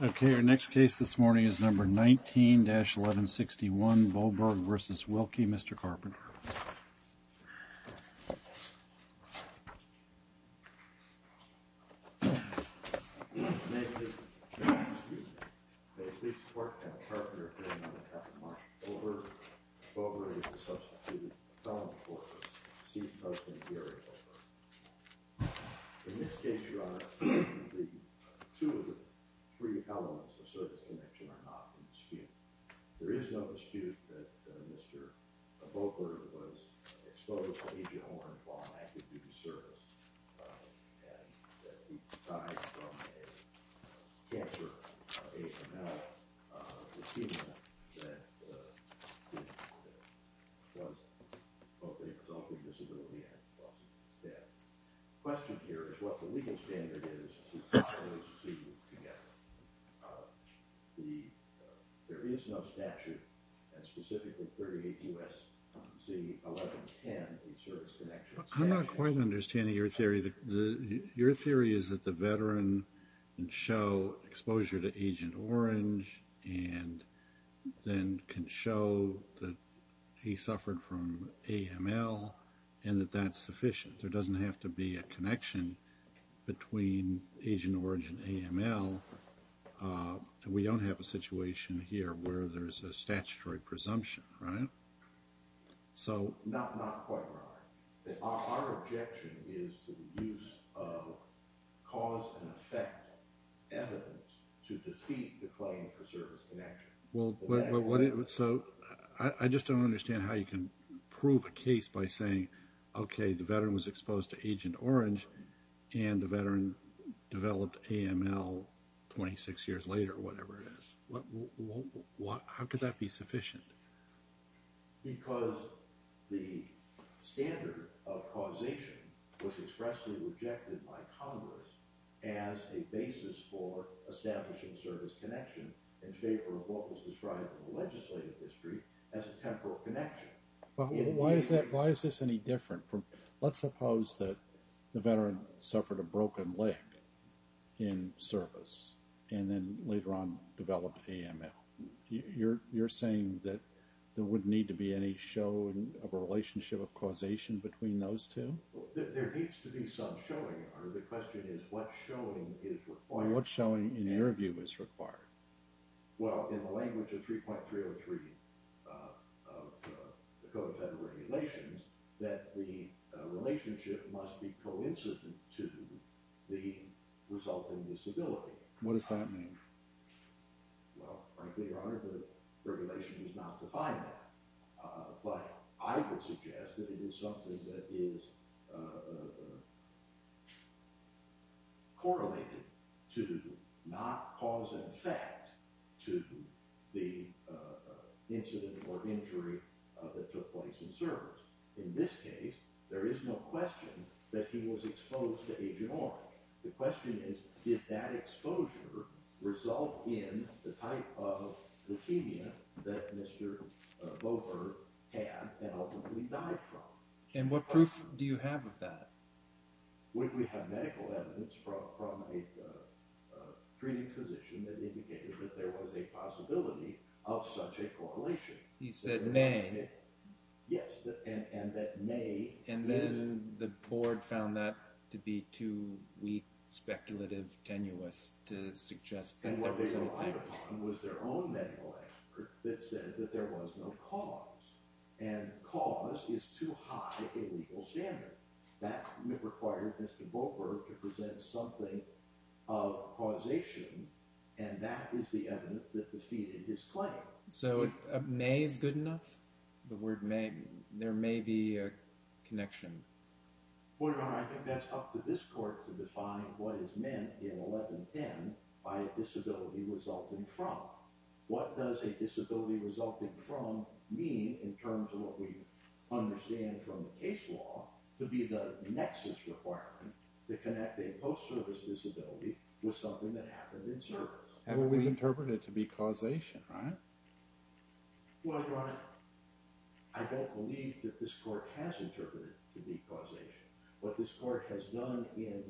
Okay, our next case this morning is number 19-1161, Boberg v. Wilkie. Mr. Carpenter. In this case, Your Honor, two of the three elements of service connection are not in dispute. There is no dispute that Mr. Boberg was exposed by A.J. Horne while actively in service. And that he died from a cancer. A.M.L. Leukemia that was both a result of disability and a result of his death. The question here is what the legal standard is to tie those two together. There is no statute that specifically 38 U.S.C. 1110 in service connection. I'm not quite understanding your theory. Your theory is that the veteran can show exposure to Agent Orange and then can show that he suffered from A.M.L. And that that's sufficient. There doesn't have to be a connection between Agent Orange and A.M.L. We don't have a situation here where there's a statutory presumption, right? Not quite, Your Honor. Our objection is to the use of cause and effect evidence to defeat the claim for service connection. I just don't understand how you can prove a case by saying, okay, the veteran was exposed to Agent Orange and the veteran developed A.M.L. 26 years later or whatever it is. How could that be sufficient? Because the standard of causation was expressly rejected by Congress as a basis for establishing service connection in favor of what was described in the legislative history as a temporal connection. Why is this any different? Let's suppose that the veteran suffered a broken leg in service and then later on developed A.M.L. You're saying that there wouldn't need to be any show of a relationship of causation between those two? There needs to be some showing, Your Honor. The question is what showing is required. What showing in your view is required? Well, in the language of 3.303 of the Code of Federal Regulations, that the relationship must be coincident to the resulting disability. What does that mean? Well, frankly, Your Honor, the regulation does not define that. But I would suggest that it is something that is correlated to not cause an effect to the incident or injury that took place in service. In this case, there is no question that he was exposed to Agent Orange. The question is, did that exposure result in the type of leukemia that Mr. Bowker had and ultimately died from? And what proof do you have of that? Would we have medical evidence from a treating physician that indicated that there was a possibility of such a correlation? He said, may. Yes, and that may. And then the board found that to be too weak, speculative, tenuous to suggest that there was any type of correlation. And what they relied upon was their own medical expert that said that there was no cause. And cause is too high a legal standard. That required Mr. Bowker to present something of causation, and that is the evidence that defeated his claim. So may is good enough? There may be a connection. Well, Your Honor, I think that's up to this court to define what is meant in 1110 by a disability resulting from. What does a disability resulting from mean in terms of what we understand from the case law to be the nexus requirement to connect a post-service disability with something that happened in service? We interpret it to be causation, right? Well, Your Honor, I don't believe that this court has interpreted it to be causation. What this court has done in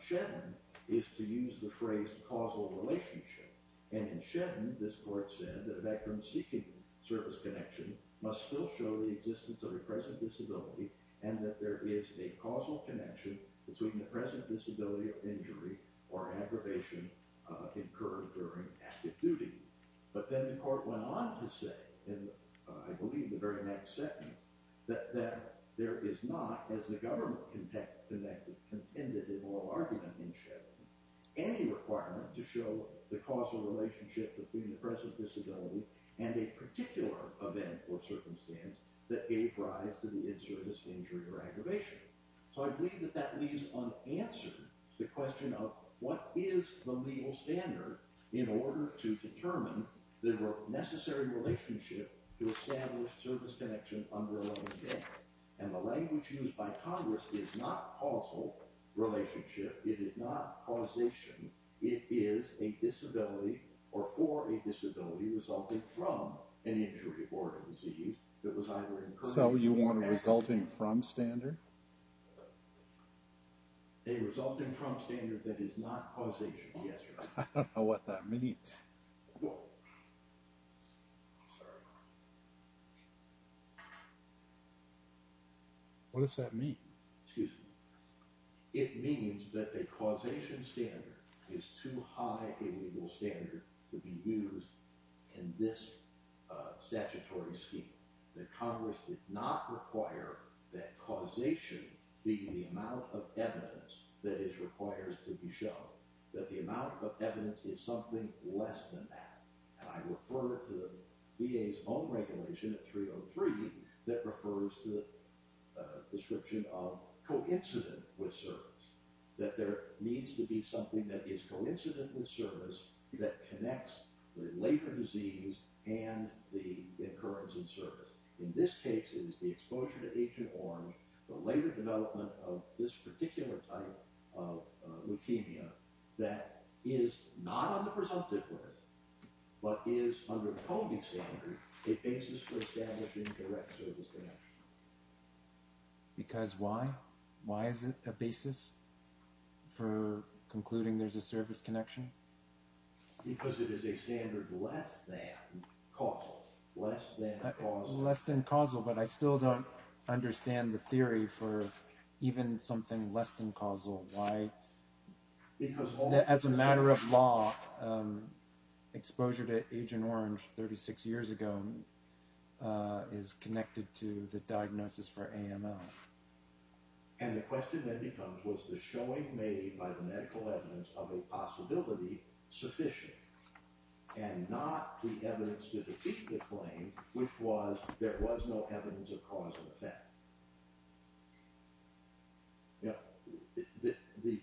Shetland is to use the phrase causal relationship. And in Shetland, this court said that a veteran seeking service connection must still show the existence of a present disability and that there is a causal connection between the present disability of injury or aggravation incurred during active duty. But then the court went on to say, in I believe the very next second, that there is not, as the government contended in all argument in Shetland, any requirement to show the causal relationship between the present disability and a particular event or circumstance that gave rise to the in-service injury or aggravation. So I believe that that leaves unanswered the question of what is the legal standard in order to determine the necessary relationship to establish service connection under a living death. And the language used by Congress is not causal relationship. It is not causation. It is a disability or for a disability resulting from an injury or disease that was either incurred... So you want a resulting from standard? A resulting from standard that is not causation. Yes, Your Honor. I don't know what that means. What does that mean? Excuse me. It means that a causation standard is too high a legal standard to be used in this statutory scheme that Congress did not require that causation be the amount of evidence that is required to be shown. That the amount of evidence is something less than that. And I refer to the VA's own regulation at 303 that refers to the description of coincident with service. That there needs to be something that is coincident with service that connects the later disease and the occurrence in service. In this case, it is the exposure to Agent Orange, the later development of this particular type of leukemia that is not on the presumptive list but is under the coding standard a basis for establishing direct service connection. Because why? Why is it a basis for concluding there's a service connection? Because it is a standard less than causal. Less than causal. Less than causal, but I still don't understand the theory for even something less than causal. As a matter of law, exposure to Agent Orange 36 years ago is connected to the diagnosis for AML. And the question then becomes, was the showing made by the medical evidence of a possibility sufficient? And not the evidence to defeat the claim, which was there was no evidence of cause and effect. The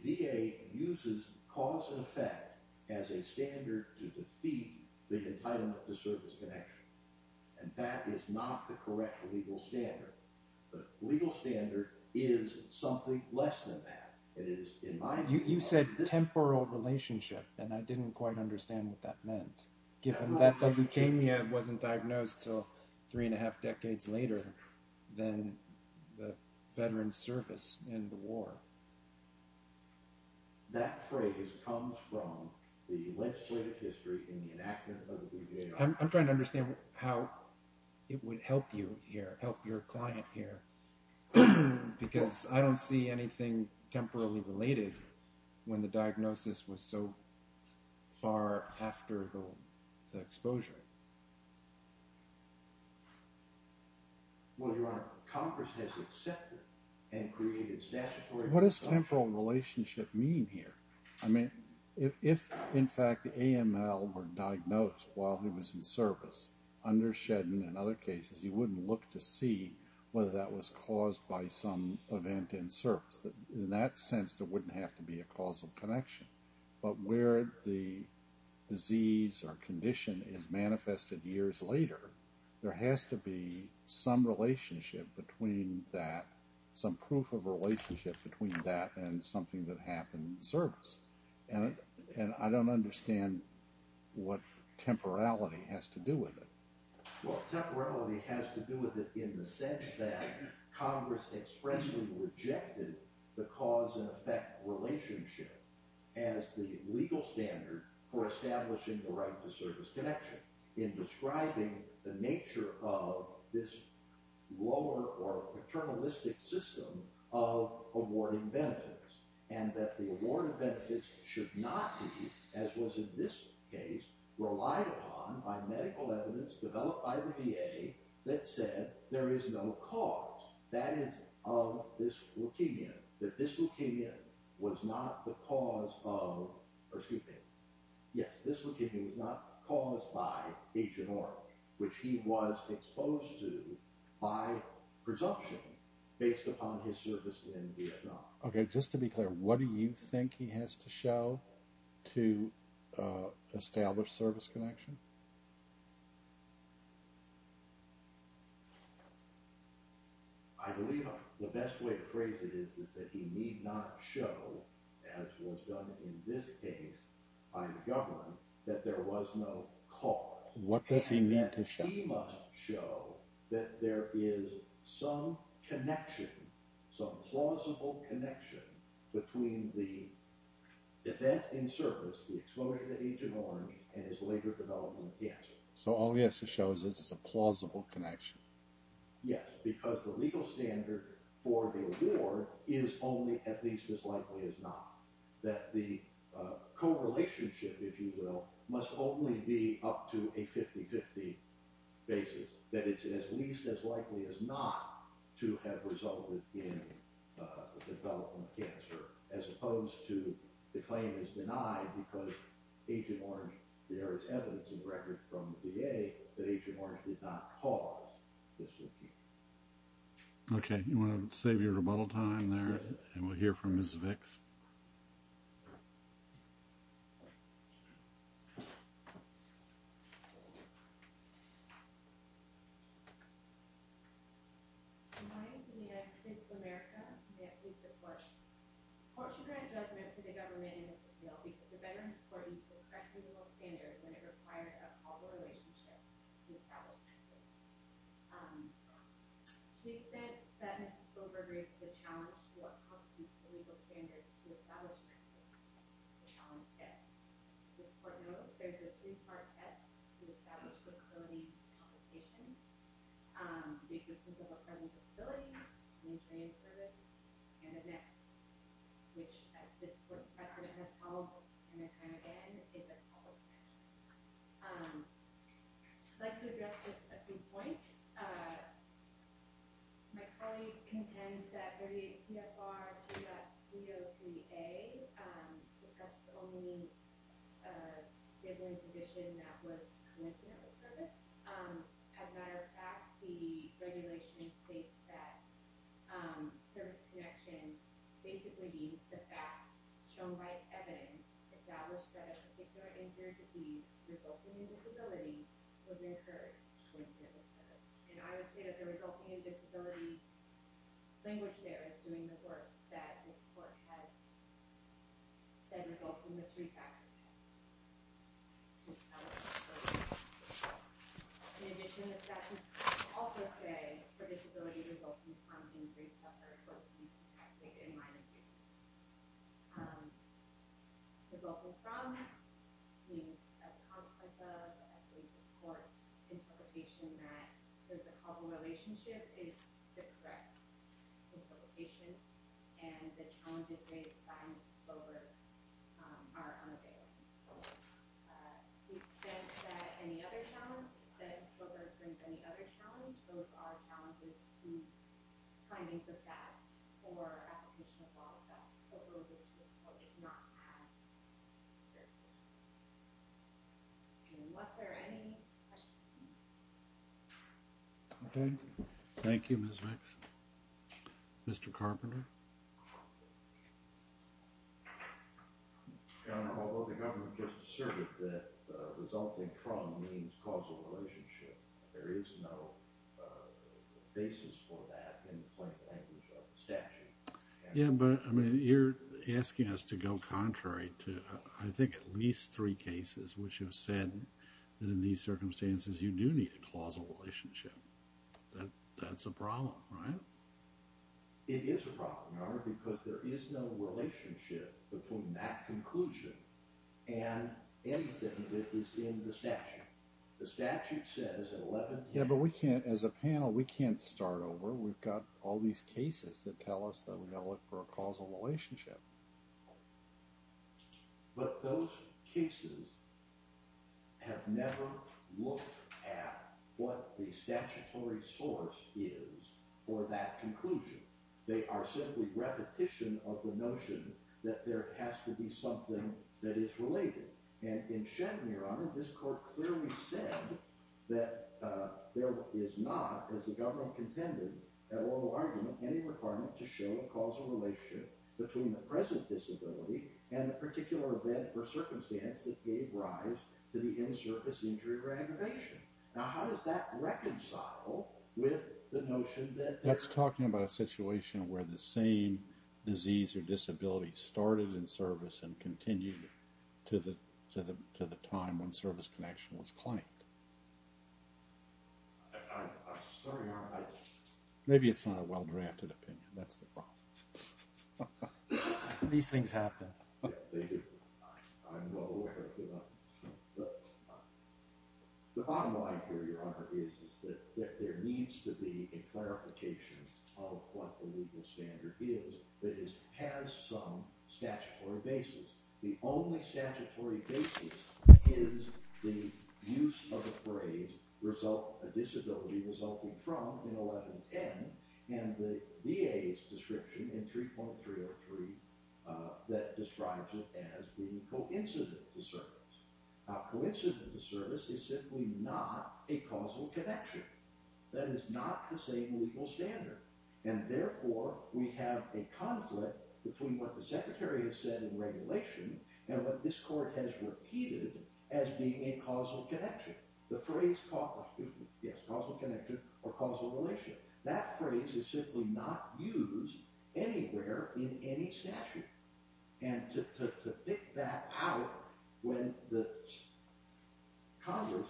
VA uses cause and effect as a standard to defeat the entitlement to service connection. And that is not the correct legal standard. The legal standard is something less than that. It is, in my view... You said temporal relationship, and I didn't quite understand what that meant. Given that leukemia wasn't diagnosed until three and a half decades later than the veteran's service in the war. I'm trying to understand how it would help you here, help your client here. Because I don't see anything temporally related when the diagnosis was so far after the exposure. Well, Your Honor, Congress has accepted and created statutory... What does temporal relationship mean here? I mean, if in fact AML were diagnosed while he was in service, under Shedden and other cases, you wouldn't look to see whether that was caused by some event in service. In that sense, there wouldn't have to be a causal connection. But where the disease or condition is manifested years later, there has to be some relationship between that, some proof of relationship between that and something that happened in service. And I don't understand what temporality has to do with it. Well, temporality has to do with it in the sense that Congress expressly rejected the cause and effect relationship as the legal standard for establishing the right to service connection in describing the nature of this lower or paternalistic system of awarding benefits. And that the award of benefits should not be, as was in this case, relied upon by medical evidence developed by the VA that said there is no cause. That is of this leukemia. That this leukemia was not the cause of... Excuse me. Yes, this leukemia was not caused by Agent Orange, which he was exposed to by presumption based upon his service in Vietnam. Okay, just to be clear, what do you think he has to show to establish service connection? I believe the best way to phrase it is that he need not show, as was done in this case by the government, that there was no cause. What does he need to show? He must show that there is some connection, some plausible connection, between the event in service, the exposure to Agent Orange, and his later development in cancer. So all he has to show is this is a plausible connection. Yes, because the legal standard for the award is only at least as likely as not. That the co-relationship, if you will, must only be up to a 50-50 basis. That it's at least as likely as not to have resulted in the development of cancer, as opposed to the claim is denied because Agent Orange... There is evidence in the records from the VA that Agent Orange did not cause this leukemia. Okay, you want to save your rebuttal time there, and we'll hear from Ms. Vicks. Good morning. I'm calling to the United States of America to get police support. Portion grant does meant to the government and the CCLB that the veterans court used the correct legal standard when it required a co-relationship to establish connection. Police said that Ms. Vicks overreached the challenge to what constitutes a legal standard to establish connection. The challenge is this court knows there's a three-part test to establish the co-relationship. It's a physical friendly disability, a restraining service, and a NIC. Which, as this court's precedent has followed time and time again, is a co-relationship. I'd like to address just a few points. My colleague contends that 38 CFR 3.303A discussed only a given condition that was commensurate with service. As a matter of fact, the regulation states that service connection basically means the fact shown by evidence established that a particular injured disease resulting in disability was incurred during physical service. And I would say that the resulting in disability language there is doing the work that this court has said results in the three factors. In addition, the statutes also say for disability resulting from injury suffered both in active and minor injuries. Resulting from means a concept of, as this court's interpretation says, a co-relationship is a threat to the patient. And the challenges raised by Ms. Wilber are unavailable. To the extent that Ms. Wilber presents any other challenge, those are challenges to findings of that for application of law. That's what we're looking for. It's not passed. And was there any questions? OK. Thank you, Ms. Vicks. Mr. Carpenter. Although the government just asserted that resulting from means causal relationship, there is no basis for that in the plaintiff language of the statute. Yeah, but you're asking us to go contrary to, I think, at least three cases which have said that in these circumstances you do need a causal relationship. That's a problem, right? It is a problem, Your Honor, because there is no relationship between that conclusion and anything that is in the statute. The statute says in 11 cases. Yeah, but we can't, as a panel, we can't start over. We've got all these cases that tell us that we've got to look for a causal relationship. But those cases have never looked at what the statutory source is for that conclusion. They are simply repetition of the notion that there has to be something that is related. And in Shen, Your Honor, this court clearly said that there is not, as the government contended, at oral argument, any requirement to show a causal relationship between the present disability and the particular event or circumstance that gave rise to the in-service injury or aggravation. Now, how does that reconcile with the notion that... It's talking about a situation where the same disease or disability started in service and continued to the time when service connection was claimed. Sorry, Your Honor. Maybe it's not a well-drafted opinion. That's the problem. These things happen. I'm well aware of them. The bottom line here, Your Honor, is that there needs to be a clarification of what the legal standard is that has some statutory basis. The only statutory basis is the use of the phrase, a disability resulting from, in 1110, and the VA's description in 3.303 that describes it as being coincident to service. Now, coincident to service is simply not a causal connection. That is not the same legal standard. And therefore, we have a conflict between what the Secretary has said in regulation and what this Court has repeated as being a causal connection. The phrase causal connection or causal relationship, that phrase is simply not used anywhere in any statute. And to pick that out when the Congress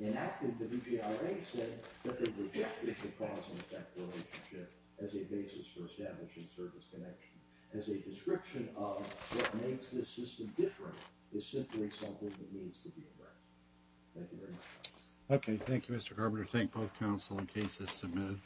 enacted the DGRA said that they rejected the causal relationship as a basis for establishing service connection as a description of what makes this system different is simply something that needs to be addressed. Thank you very much, Your Honor.